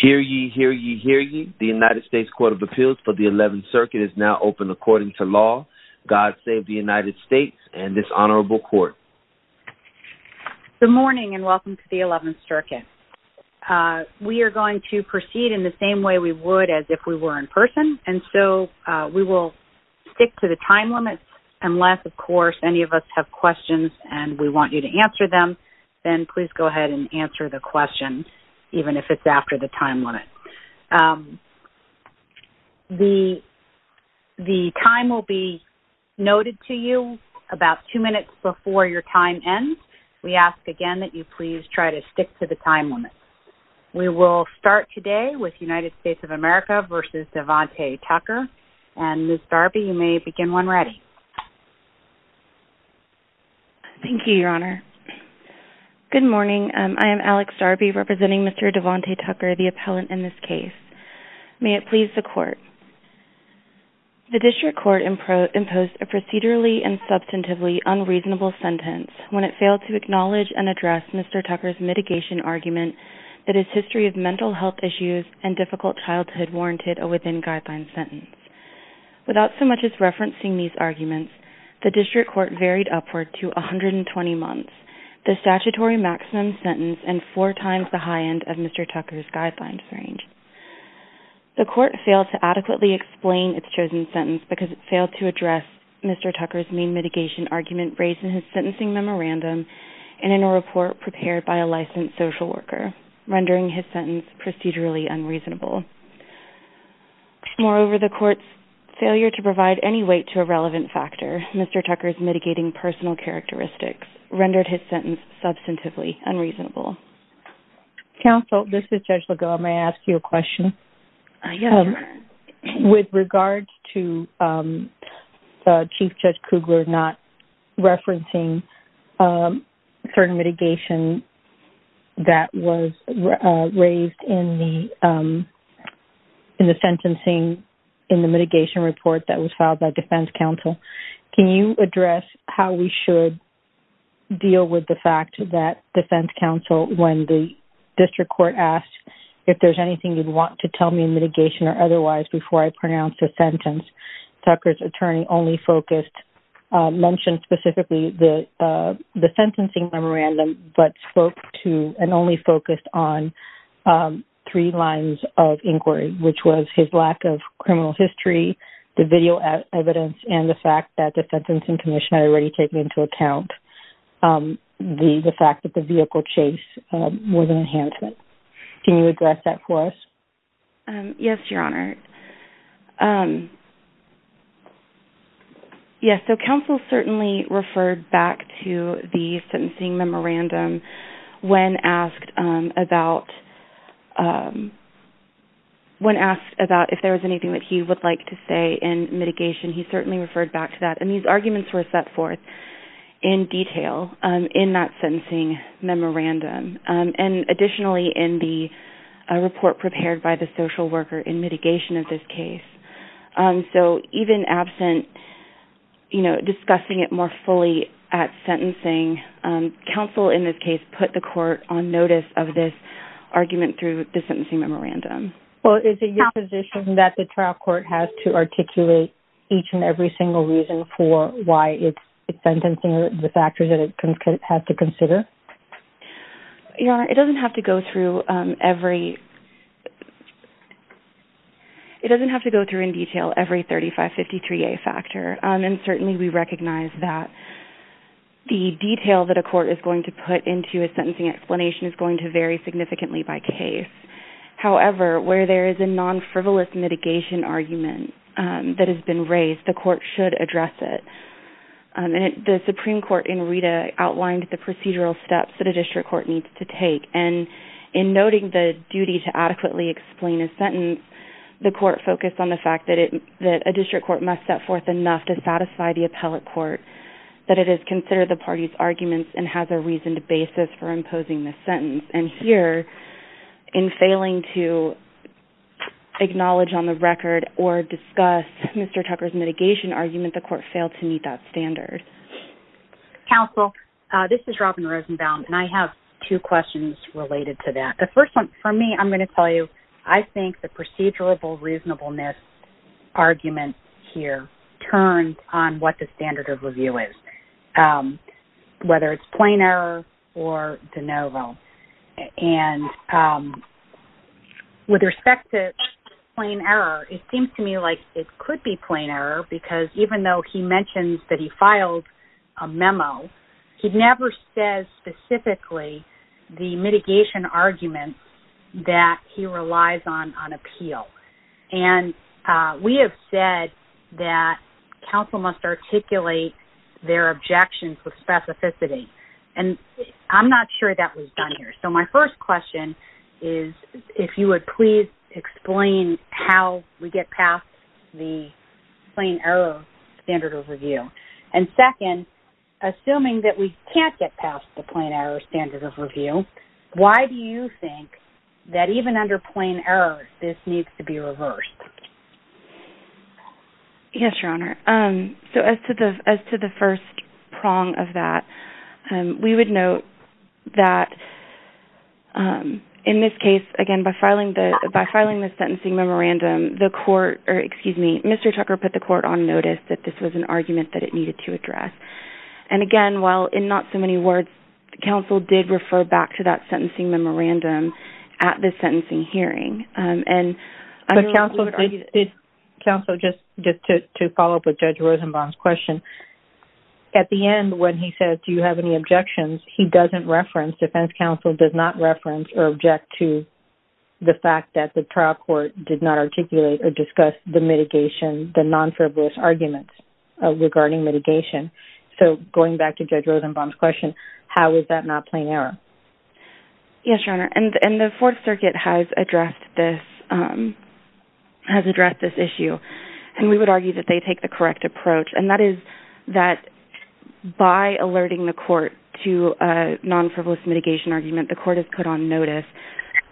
Hear ye, hear ye, hear ye. The United States Court of Appeals for the 11th Circuit is now open according to law. God save the United States and this honorable court. Good morning and welcome to the 11th Circuit. We are going to proceed in the same way we would as if we were in person and so we will stick to the time limits unless of course any of us have questions and we want you to answer them. Then please go ahead and answer the question even if it's after the time limit. The time will be noted to you about two minutes before your time ends. We ask again that you please try to stick to the time limit. We will start today with United States of America v. Devonte Tucker and Ms. Darby, you may begin when ready. Thank you, Your Honor. Good morning. I am Alex Darby representing Mr. Devonte Tucker, the appellant in this case. May it please the court. The district court imposed a procedurally and substantively unreasonable sentence when it failed to acknowledge and address Mr. Tucker's mitigation argument that his history of mental health issues and difficult childhood warranted a within-guidelines sentence. Without so much as referencing these arguments, the district court varied upward to 120 months, the statutory maximum sentence and four times the high end of Mr. Tucker's guidelines range. The court failed to adequately explain its chosen sentence because it failed to address Mr. Tucker's main mitigation argument raised in his sentencing memorandum and in a report prepared by a licensed social worker, rendering his sentence procedurally unreasonable. Moreover, the court's failure to provide any weight to a relevant factor, Mr. Tucker's mitigating personal characteristics, rendered his sentence substantively unreasonable. Counsel, this is Judge Legault. May I ask you a question? Yes, Your Honor. With regards to Chief Judge Kugler not referencing certain mitigation that was raised in the sentencing in the mitigation report that was filed by defense counsel, can you address how we should deal with the fact that defense counsel, when the district court asked if there's anything you'd want to tell me in mitigation or otherwise before I pronounce a sentence, Tucker's attorney only focused, mentioned specifically the sentencing memorandum, but spoke to and only focused on three lines of inquiry, which was his lack of criminal history, the video evidence, and the fact that the sentencing commission had already taken into account the fact that the vehicle chase was an enhancement. Can you address that for us? Yes, Your Honor. Yes, so counsel certainly referred back to the sentencing memorandum when asked about if there was anything that he would like to say in mitigation. He certainly referred back to that, and these arguments were set forth in detail in that sentencing memorandum. And additionally, in the report prepared by the social worker in mitigation of this case. So even absent, you know, discussing it more fully at sentencing, counsel in this case put the court on notice of this argument through the sentencing memorandum. Well, is it your position that the trial court has to articulate each and every single reason for why it's sentencing, the factors that it has to consider? Your Honor, it doesn't have to go through every, it doesn't have to go through in detail every 3553A factor. And certainly we recognize that the detail that a court is going to put into a sentencing explanation is going to vary significantly by case. However, where there is a non-frivolous mitigation argument that has been raised, the court should address it. The Supreme Court in Rita outlined the procedural steps that a district court needs to take. And in noting the duty to adequately explain a sentence, the court focused on the fact that a district court must set forth enough to satisfy the appellate court that it has considered the party's arguments and has a reasoned basis for imposing this sentence. And here, in failing to acknowledge on the record or discuss Mr. Tucker's mitigation argument, the court failed to meet that standard. Counsel, this is Robin Rosenbaum, and I have two questions related to that. The first one, for me, I'm going to tell you, I think the procedural reasonableness argument here turns on what the standard of review is, whether it's plain error or de novo. And with respect to plain error, it seems to me like it could be plain error because even though he mentions that he filed a memo, he never says specifically the mitigation argument that he relies on on appeal. And we have said that counsel must articulate their objections with specificity. And I'm not sure that was done here. So my first question is if you would please explain how we get past the plain error standard of review. And second, assuming that we can't get past the plain error standard of review, why do you think that even under plain error this needs to be reversed? Yes, Your Honor. So as to the first prong of that, we would note that in this case, again, by filing the sentencing memorandum, Mr. Tucker put the court on notice that this was an argument that it needed to address. And again, while in not so many words, the counsel did refer back to that sentencing memorandum at the sentencing hearing. Counsel, just to follow up with Judge Rosenbaum's question, at the end when he says, do you have any objections, he doesn't reference, defense counsel does not reference or object to the fact that the trial court did not articulate or discuss the mitigation, the non-frivolous arguments regarding mitigation. So going back to Judge Rosenbaum's question, how is that not plain error? Yes, Your Honor. And the Fourth Circuit has addressed this issue. And we would argue that they take the correct approach. And that is that by alerting the court to a non-frivolous mitigation argument, the court is put on notice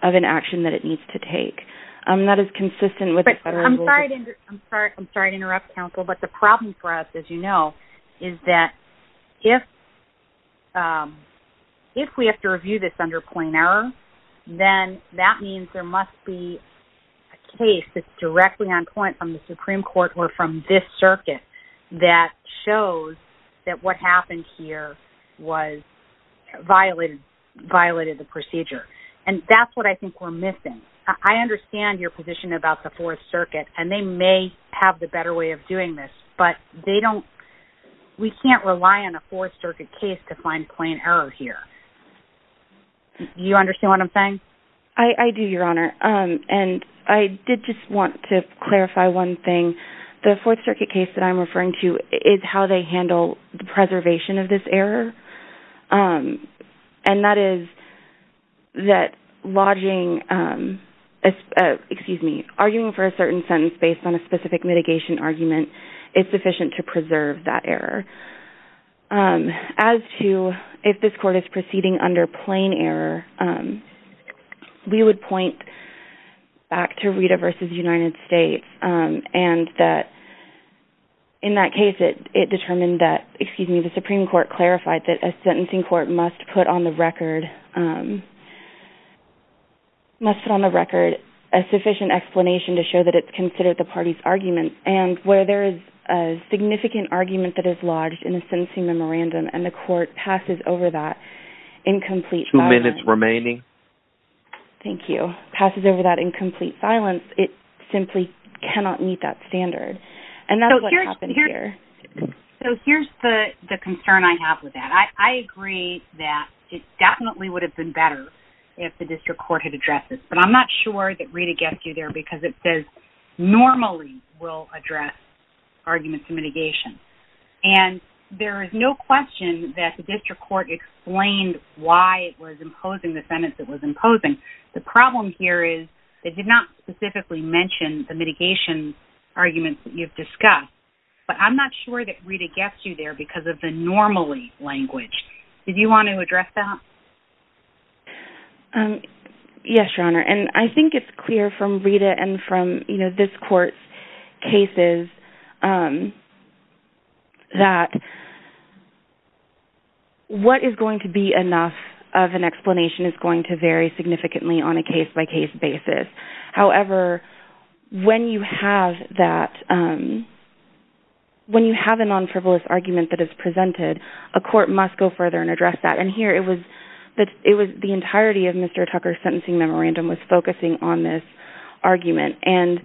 of an action that it needs to take. That is consistent with the federal rule. I'm sorry to interrupt, counsel, but the problem for us, as you know, is that if we have to review this under plain error, then that means there must be a case that's directly on point from the Supreme Court or from this circuit that shows that what happened here violated the procedure. And that's what I think we're missing. I understand your position about the Fourth Circuit, and they may have the better way of doing this, but we can't rely on a Fourth Circuit case to find plain error here. Do you understand what I'm saying? I do, Your Honor. And I did just want to clarify one thing. The Fourth Circuit case that I'm referring to is how they handle the preservation of this error. And that is that lodging, excuse me, arguing for a certain sentence based on a specific mitigation argument is sufficient to preserve that error. As to if this court is proceeding under plain error, we would point back to Rita v. United States and that in that case it determined that, excuse me, the Supreme Court clarified that a sentencing court must put on the record a sufficient explanation to show that it's considered the party's argument. And where there is a significant argument that is lodged in a sentencing memorandum and the court passes over that in complete silence. Two minutes remaining. Thank you. Passes over that in complete silence, it simply cannot meet that standard. And that's what happened here. So here's the concern I have with that. I agree that it definitely would have been better if the district court had addressed this, but I'm not sure that Rita gets you there because it says normally will address arguments in mitigation. And there is no question that the district court explained why it was imposing the sentence it was imposing. The problem here is they did not specifically mention the mitigation arguments that you've discussed. But I'm not sure that Rita gets you there because of the normally language. Did you want to address that? Yes, Your Honor. And I think it's clear from Rita and from this court's cases that what is going to be enough of an explanation is going to vary significantly on a case-by-case basis. However, when you have that, when you have a non-frivolous argument that is presented, a court must go further and address that. And here it was the entirety of Mr. Tucker's sentencing memorandum was focusing on this argument. And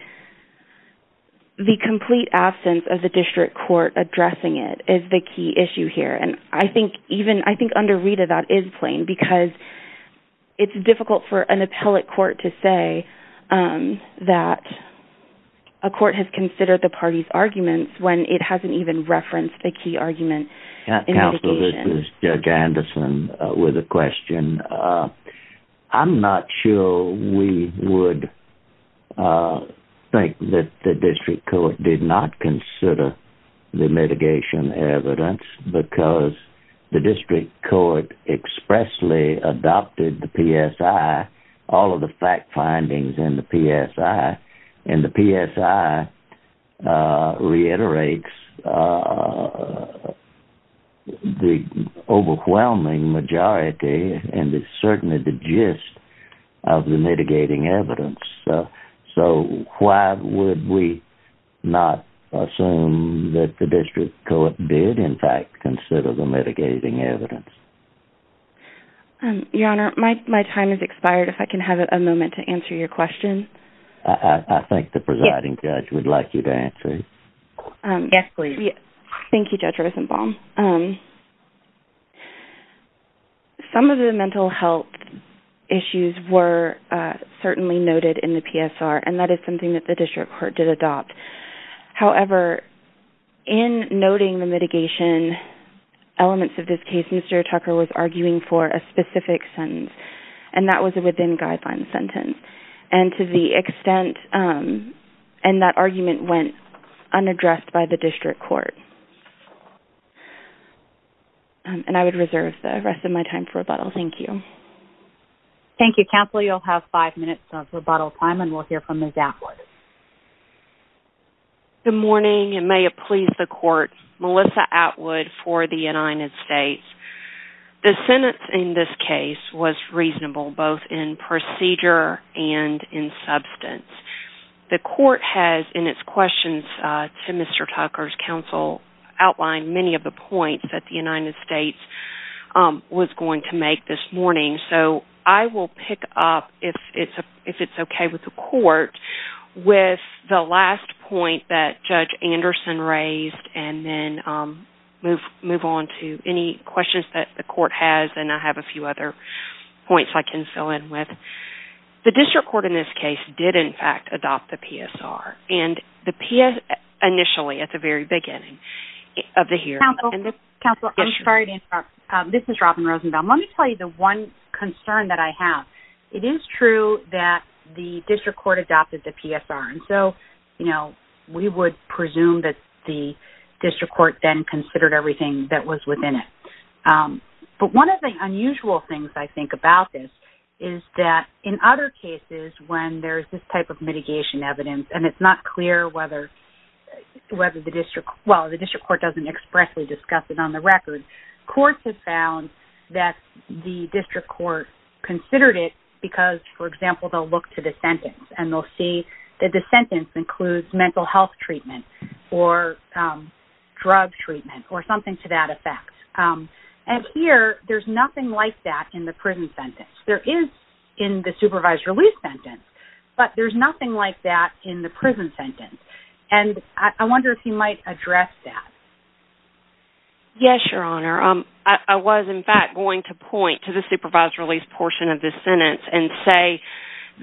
the complete absence of the district court addressing it is the key issue here. And I think under Rita that is plain because it's difficult for an appellate court to say that a court has considered the party's arguments when it hasn't even referenced the key argument in mitigation. Counsel, this is Judge Anderson with a question. I'm not sure we would think that the district court did not consider the mitigation evidence because the district court expressly adopted the PSI, all of the fact findings in the PSI. And the PSI reiterates the overwhelming majority and certainly the gist of the mitigating evidence. So why would we not assume that the district court did in fact consider the mitigating evidence? Your Honor, my time has expired. If I can have a moment to answer your question. I think the presiding judge would like you to answer it. Yes, please. Thank you, Judge Rosenbaum. Some of the mental health issues were certainly noted in the PSR and that is something that the district court did adopt. However, in noting the mitigation elements of this case, Mr. Tucker was arguing for a specific sentence and that was a within guidelines sentence. And to the extent, and that argument went unaddressed by the district court. And I would reserve the rest of my time for rebuttal. Thank you. Thank you. Counsel, you'll have five minutes of rebuttal time and we'll hear from Ms. Atwood. Good morning and may it please the court, Melissa Atwood for the United States. The sentence in this case was reasonable both in procedure and in substance. The court has in its questions to Mr. Tucker's counsel outlined many of the points that the United States was going to make this morning. So I will pick up if it's okay with the court with the last point that Judge Anderson raised and then move on to any questions that the court has. And I have a few other points I can fill in with. The district court in this case did in fact adopt the PSR and the PS initially at the very beginning of the hearing. Counsel, I'm sorry to interrupt. This is Robin Rosenbaum. Let me tell you the one concern that I have. It is true that the district court adopted the PSR. And so, you know, we would presume that the district court then considered everything that was within it. But one of the unusual things I think about this is that in other cases when there's this type of mitigation evidence and it's not clear whether the district, well, the district court doesn't expressly discuss it on the record. Courts have found that the district court considered it because, for example, they'll look to the sentence and they'll see that the sentence includes mental health treatment or drug treatment or something to that effect. And here, there's nothing like that in the prison sentence. There is in the supervised release sentence, but there's nothing like that in the prison sentence. And I wonder if you might address that. Yes, Your Honor. I was, in fact, going to point to the supervised release portion of this sentence and say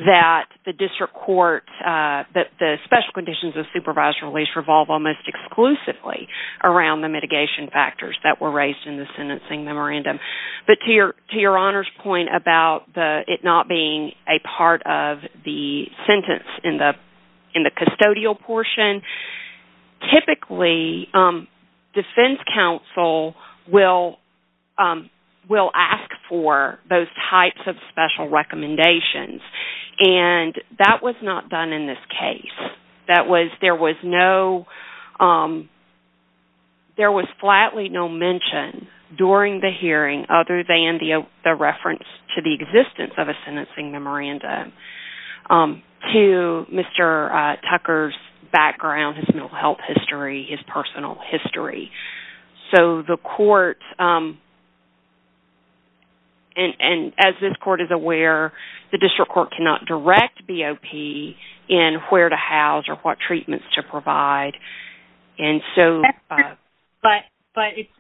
that the district court, that the special conditions of supervised release revolve almost exclusively around the mitigation factors that were raised in the sentencing memorandum. But to Your Honor's point about it not being a part of the sentence in the custodial portion, typically defense counsel will ask for those types of special recommendations. And that was not done in this case. There was flatly no mention during the hearing other than the reference to the existence of a sentencing memorandum to Mr. Tucker's background, his mental health history, his personal history. So the court, and as this court is aware, the district court cannot direct BOP in where to house or what treatments to provide. But it's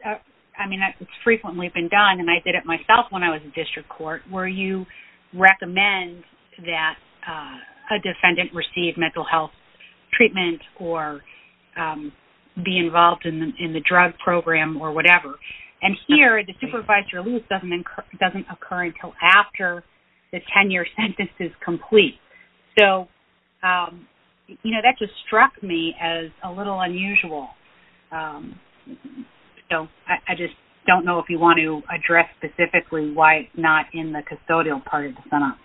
frequently been done, and I did it myself when I was in district court, where you recommend that a defendant receive mental health treatment or be involved in the drug program or whatever. And here, the supervised release doesn't occur until after the tenure sentence is complete. So that just struck me as a little unusual. So I just don't know if you want to address specifically why it's not in the custodial part of the sentence.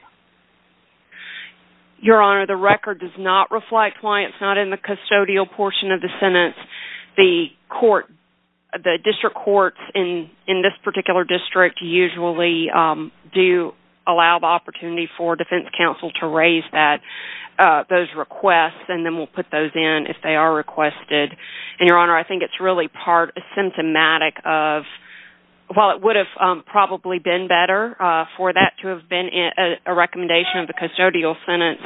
Your Honor, the record does not reflect why it's not in the custodial portion of the sentence. The district courts in this particular district usually do allow the opportunity for defense counsel to raise those requests and then will put those in if they are requested. And, Your Honor, I think it's really symptomatic of, while it would have probably been better for that to have been a recommendation of the custodial sentence,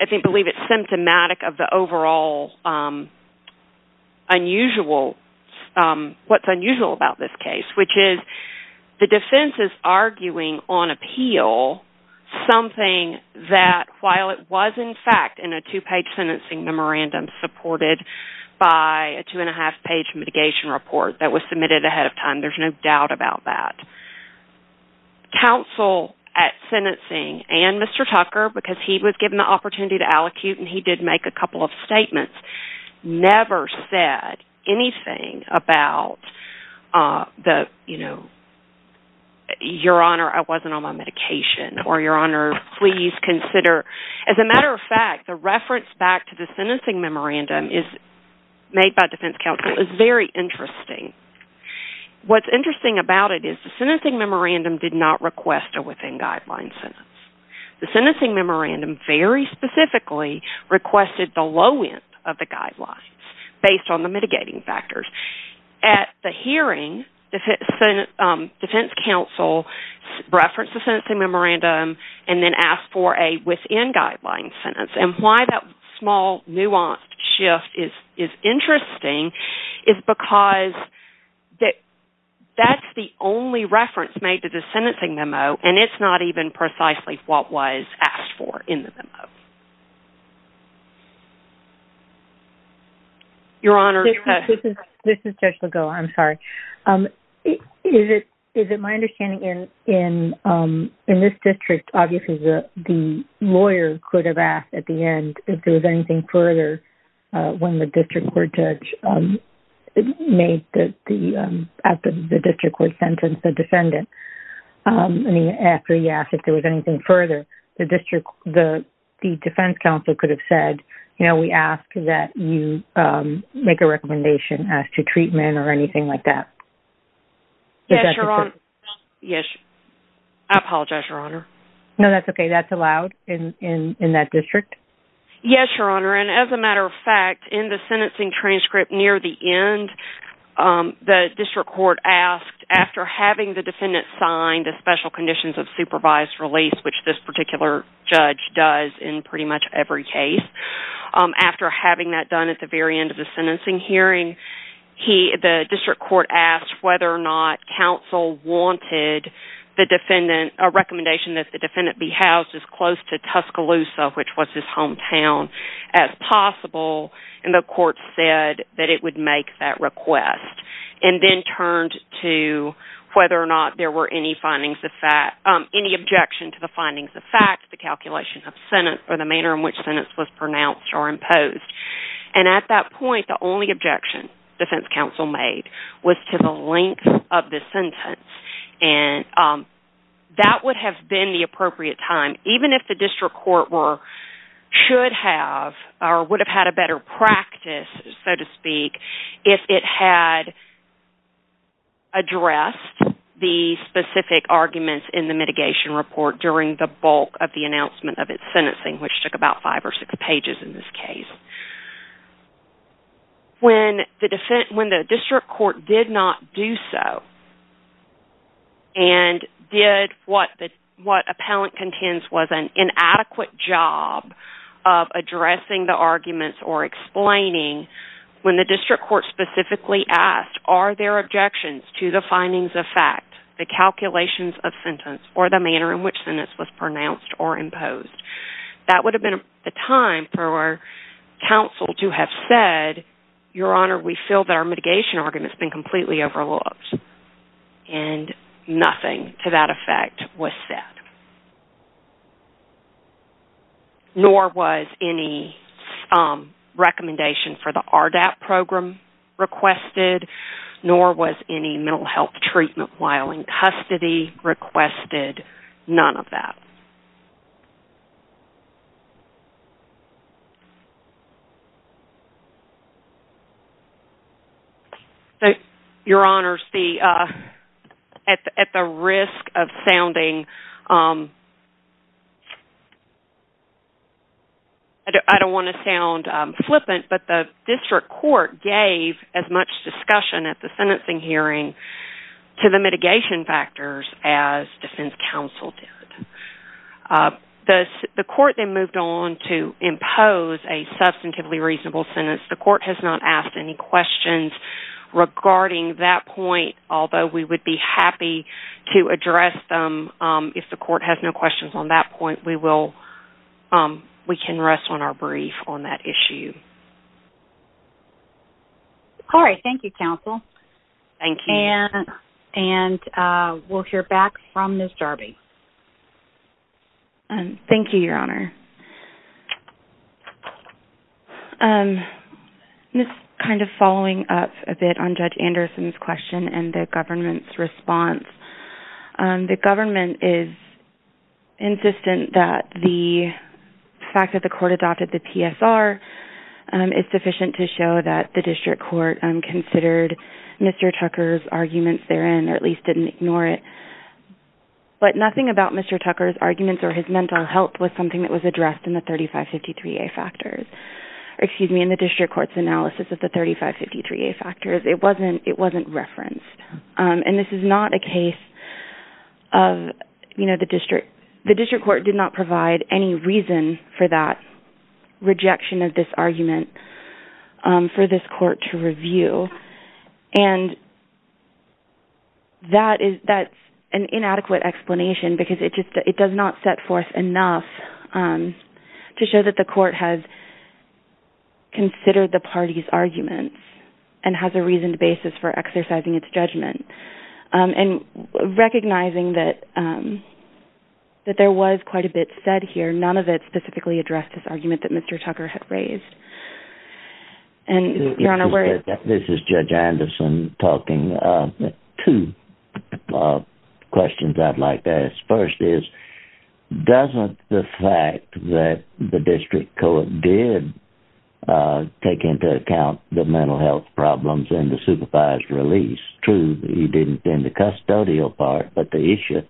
I believe it's symptomatic of the overall unusual, what's unusual about this case, which is the defense is arguing on appeal something that, while it was in fact in a two-page sentencing memorandum supported by a two-and-a-half-page mitigation report that was submitted ahead of time, there's no doubt about that. Counsel at sentencing and Mr. Tucker, because he was given the opportunity to allocute and he did make a couple of statements, never said anything about, you know, Your Honor, I wasn't on my medication, or Your Honor, please consider. As a matter of fact, the reference back to the sentencing memorandum made by defense counsel is very interesting. What's interesting about it is the sentencing memorandum did not request a within-guidelines sentence. The sentencing memorandum very specifically requested the low-end of the guidelines based on the mitigating factors. At the hearing, defense counsel referenced the sentencing memorandum and then asked for a within-guidelines sentence. And why that small, nuanced shift is interesting is because that's the only reference made to the sentencing memo, and it's not even precisely what was asked for in the memo. Your Honor. This is Judge Legault. I'm sorry. Is it my understanding in this district, obviously, the lawyer could have asked at the end if there was anything further when the district court judge made the district court sentence, the defendant, and after he asked if there was anything further, the defense counsel could have said, you know, Yes, Your Honor. I apologize, Your Honor. No, that's okay. That's allowed in that district? Yes, Your Honor, and as a matter of fact, in the sentencing transcript near the end, the district court asked after having the defendant sign the special conditions of supervised release, which this particular judge does in pretty much every case, after having that done at the very end of the sentencing hearing, the district court asked whether or not counsel wanted the defendant, a recommendation that the defendant be housed as close to Tuscaloosa, which was his hometown, as possible, and the court said that it would make that request and then turned to whether or not there were any findings of fact, any objection to the findings of fact, the calculation of sentence, or the manner in which sentence was pronounced or imposed. And at that point, the only objection defense counsel made was to the length of the sentence, and that would have been the appropriate time, even if the district court were, should have, or would have had a better practice, so to speak, if it had addressed the specific arguments in the mitigation report during the bulk of the announcement of its sentencing, which took about five or six pages in this case. When the district court did not do so, and did what appellant contends was an inadequate job of addressing the arguments or explaining, when the district court specifically asked, are there objections to the findings of fact, the calculations of sentence, or the manner in which sentence was pronounced or imposed, that would have been the time for counsel to have said, Your Honor, we feel that our mitigation argument has been completely overlooked. And nothing to that effect was said. Nor was any recommendation for the RDAP program requested, nor was any mental health treatment while in custody requested. None of that. Your Honors, at the risk of sounding, I don't want to sound flippant, but the district court gave as much discussion at the sentencing hearing to the mitigation factors as defense counsel did. The court then moved on to impose a substantively reasonable sentence. The court has not asked any questions regarding that point, although we would be happy to address them if the court has no questions on that point. We can rest on our brief on that issue. All right. Thank you, counsel. Thank you. And we'll hear back from Ms. Darby. Thank you, Your Honor. Just kind of following up a bit on Judge Anderson's question and the government's response, the government is insistent that the fact that the court adopted the PSR is sufficient to show that the district court considered Mr. Tucker's arguments therein, or at least didn't ignore it. But nothing about Mr. Tucker's arguments or his mental health was something that was addressed in the district court's analysis of the 3553A factors. It wasn't referenced. And this is not a case of, you know, the district court did not provide any reason for that rejection of this argument for this court to review. And that's an inadequate explanation because it does not set forth enough to show that the court has considered the party's arguments and has a reasoned basis for exercising its judgment. And recognizing that there was quite a bit said here, none of it specifically addressed this argument that Mr. Tucker had raised. And, Your Honor, where... This is Judge Anderson talking. Two questions I'd like to ask. First is, doesn't the fact that the district court did take into account the mental health problems in the supervisor's release, true, he didn't in the custodial part, but the issue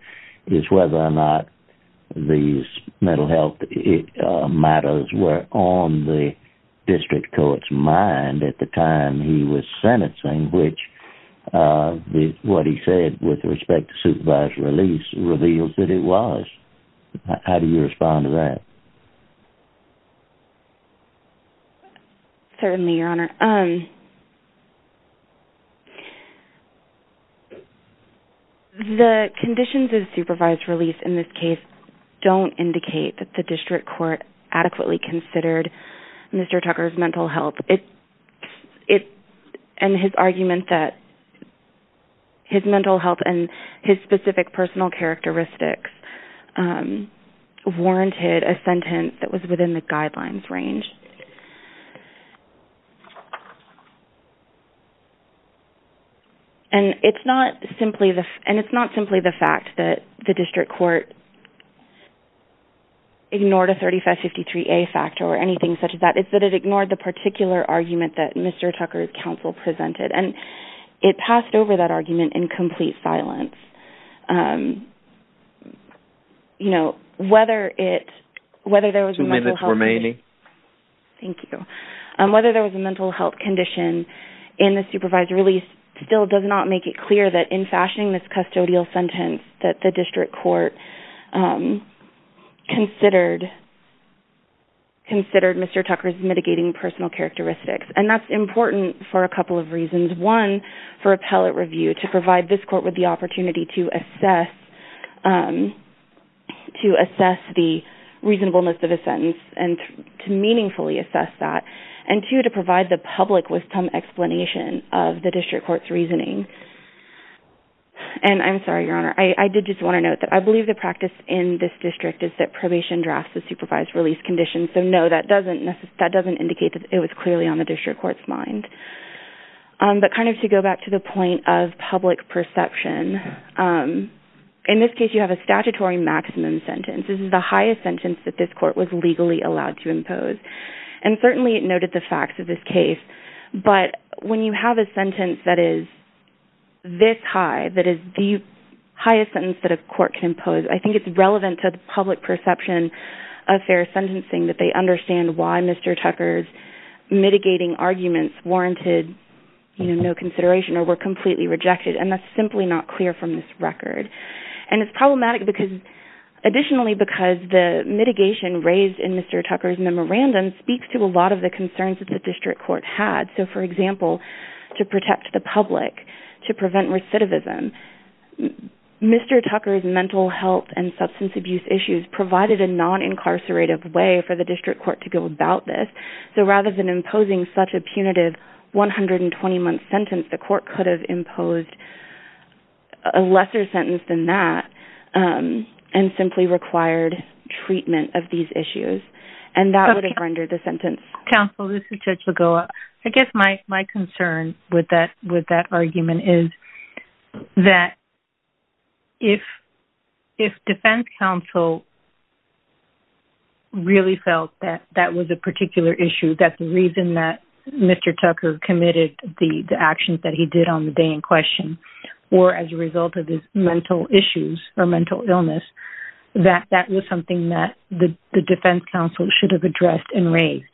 is whether or not these mental health matters were on the district court's mind at the time he was sentencing, which what he said with respect to supervisor release reveals that it was. How do you respond to that? Certainly, Your Honor. The conditions of supervisor release in this case don't indicate that the district court adequately considered Mr. Tucker's mental health. And his argument that his mental health and his specific personal characteristics warranted a sentence that was within the guidelines range. And it's not simply the fact that the district court ignored a 3553A factor or anything such as that. It's that it ignored the particular argument that Mr. Tucker's counsel presented. And it passed over that argument in complete silence. You know, whether there was a mental health issue... Two minutes remaining. Thank you. Whether there was a mental health condition in the supervisor release still does not make it clear that in fashioning this custodial sentence that the district court considered Mr. Tucker's mitigating personal characteristics. And that's important for a couple of reasons. One, for appellate review to provide this court with the opportunity to assess the reasonableness of a sentence and to meaningfully assess that. And two, to provide the public with some explanation of the district court's reasoning. And I'm sorry, Your Honor. I did just want to note that I believe the practice in this district is that probation drafts the supervised release condition. So no, that doesn't indicate that it was clearly on the district court's mind. But kind of to go back to the point of public perception, in this case you have a statutory maximum sentence. This is the highest sentence that this court was legally allowed to impose. And certainly it noted the facts of this case. But when you have a sentence that is this high, that is the highest sentence that a court can impose, I think it's relevant to the public perception of fair sentencing that they understand why Mr. Tucker's mitigating arguments warranted no consideration or were completely rejected. And that's simply not clear from this record. And it's problematic additionally because the mitigation raised in Mr. Tucker's memorandum speaks to a lot of the concerns that the district court had. So, for example, to protect the public, to prevent recidivism. Mr. Tucker's mental health and substance abuse issues provided a non-incarcerative way for the district court to go about this. So rather than imposing such a punitive 120-month sentence, the court could have imposed a lesser sentence than that and simply required treatment of these issues. And that would have rendered the sentence... Counsel, this is Judge Lagoa. I guess my concern with that argument is that if defense counsel really felt that that was a particular issue, that the reason that Mr. Tucker committed the actions that he did on the day in question were as a result of his mental issues or mental illness, that that was something that the defense counsel should have addressed and raised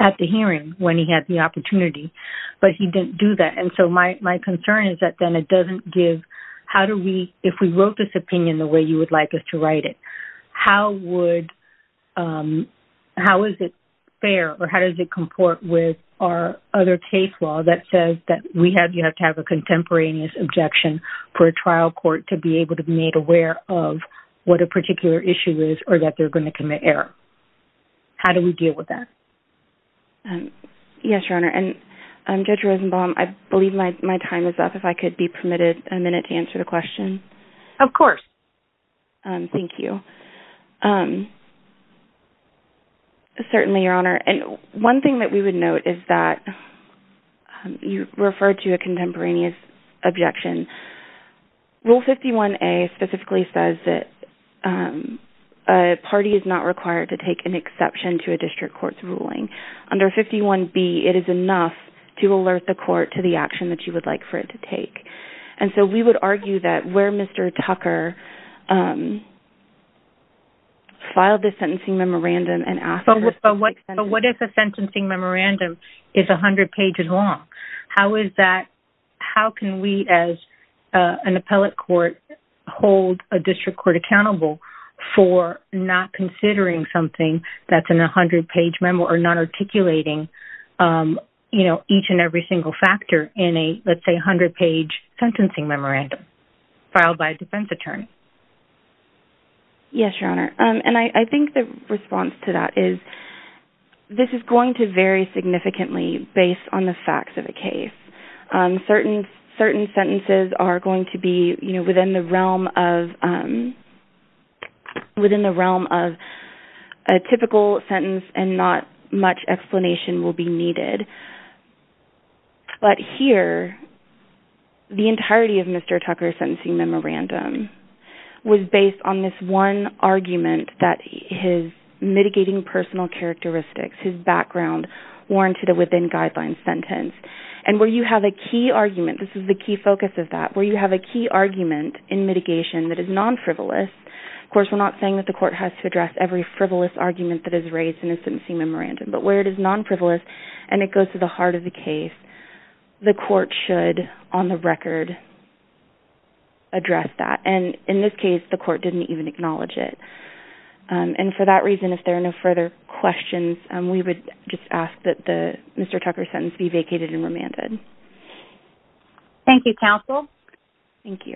at the hearing when he had the opportunity, but he didn't do that. And so my concern is that then it doesn't give... If we wrote this opinion the way you would like us to write it, how is it fair or how does it comport with our other case law that says that we have to have a contemporaneous objection for a trial court to be able to be made aware of what a particular issue is or that they're going to commit error? How do we deal with that? Yes, Your Honor. And Judge Rosenbaum, I believe my time is up. If I could be permitted a minute to answer the question. Of course. Thank you. Certainly, Your Honor. And one thing that we would note is that you referred to a contemporaneous objection. Rule 51A specifically says that a party is not required to take an exception to a district court's ruling. Under 51B, it is enough to alert the court to the action that you would like for it to take. And so we would argue that where Mr. Tucker filed the sentencing memorandum and after... But what if a sentencing memorandum is 100 pages long? How is that... How can we as an appellate court hold a district court accountable for not considering something that's in a 100-page memo or not articulating, you know, each and every single factor in a, let's say, 100-page sentencing memorandum filed by a defense attorney? Yes, Your Honor. And I think the response to that is this is going to vary significantly based on the facts of the case. Certain sentences are going to be, you know, within the realm of... within the realm of a typical sentence and not much explanation will be needed. But here, the entirety of Mr. Tucker's sentencing memorandum was based on this one argument that his mitigating personal characteristics, his background, warranted a within-guidelines sentence. And where you have a key argument, this is the key focus of that, where you have a key argument in mitigation that is non-frivolous... Of course, we're not saying that the court has to address every frivolous argument that is raised in a sentencing memorandum, but where it is non-frivolous and it goes to the heart of the case, the court should, on the record, address that. And in this case, the court didn't even acknowledge it. And for that reason, if there are no further questions, we would just ask that the Mr. Tucker sentence be vacated and remanded. Thank you, counsel. Thank you.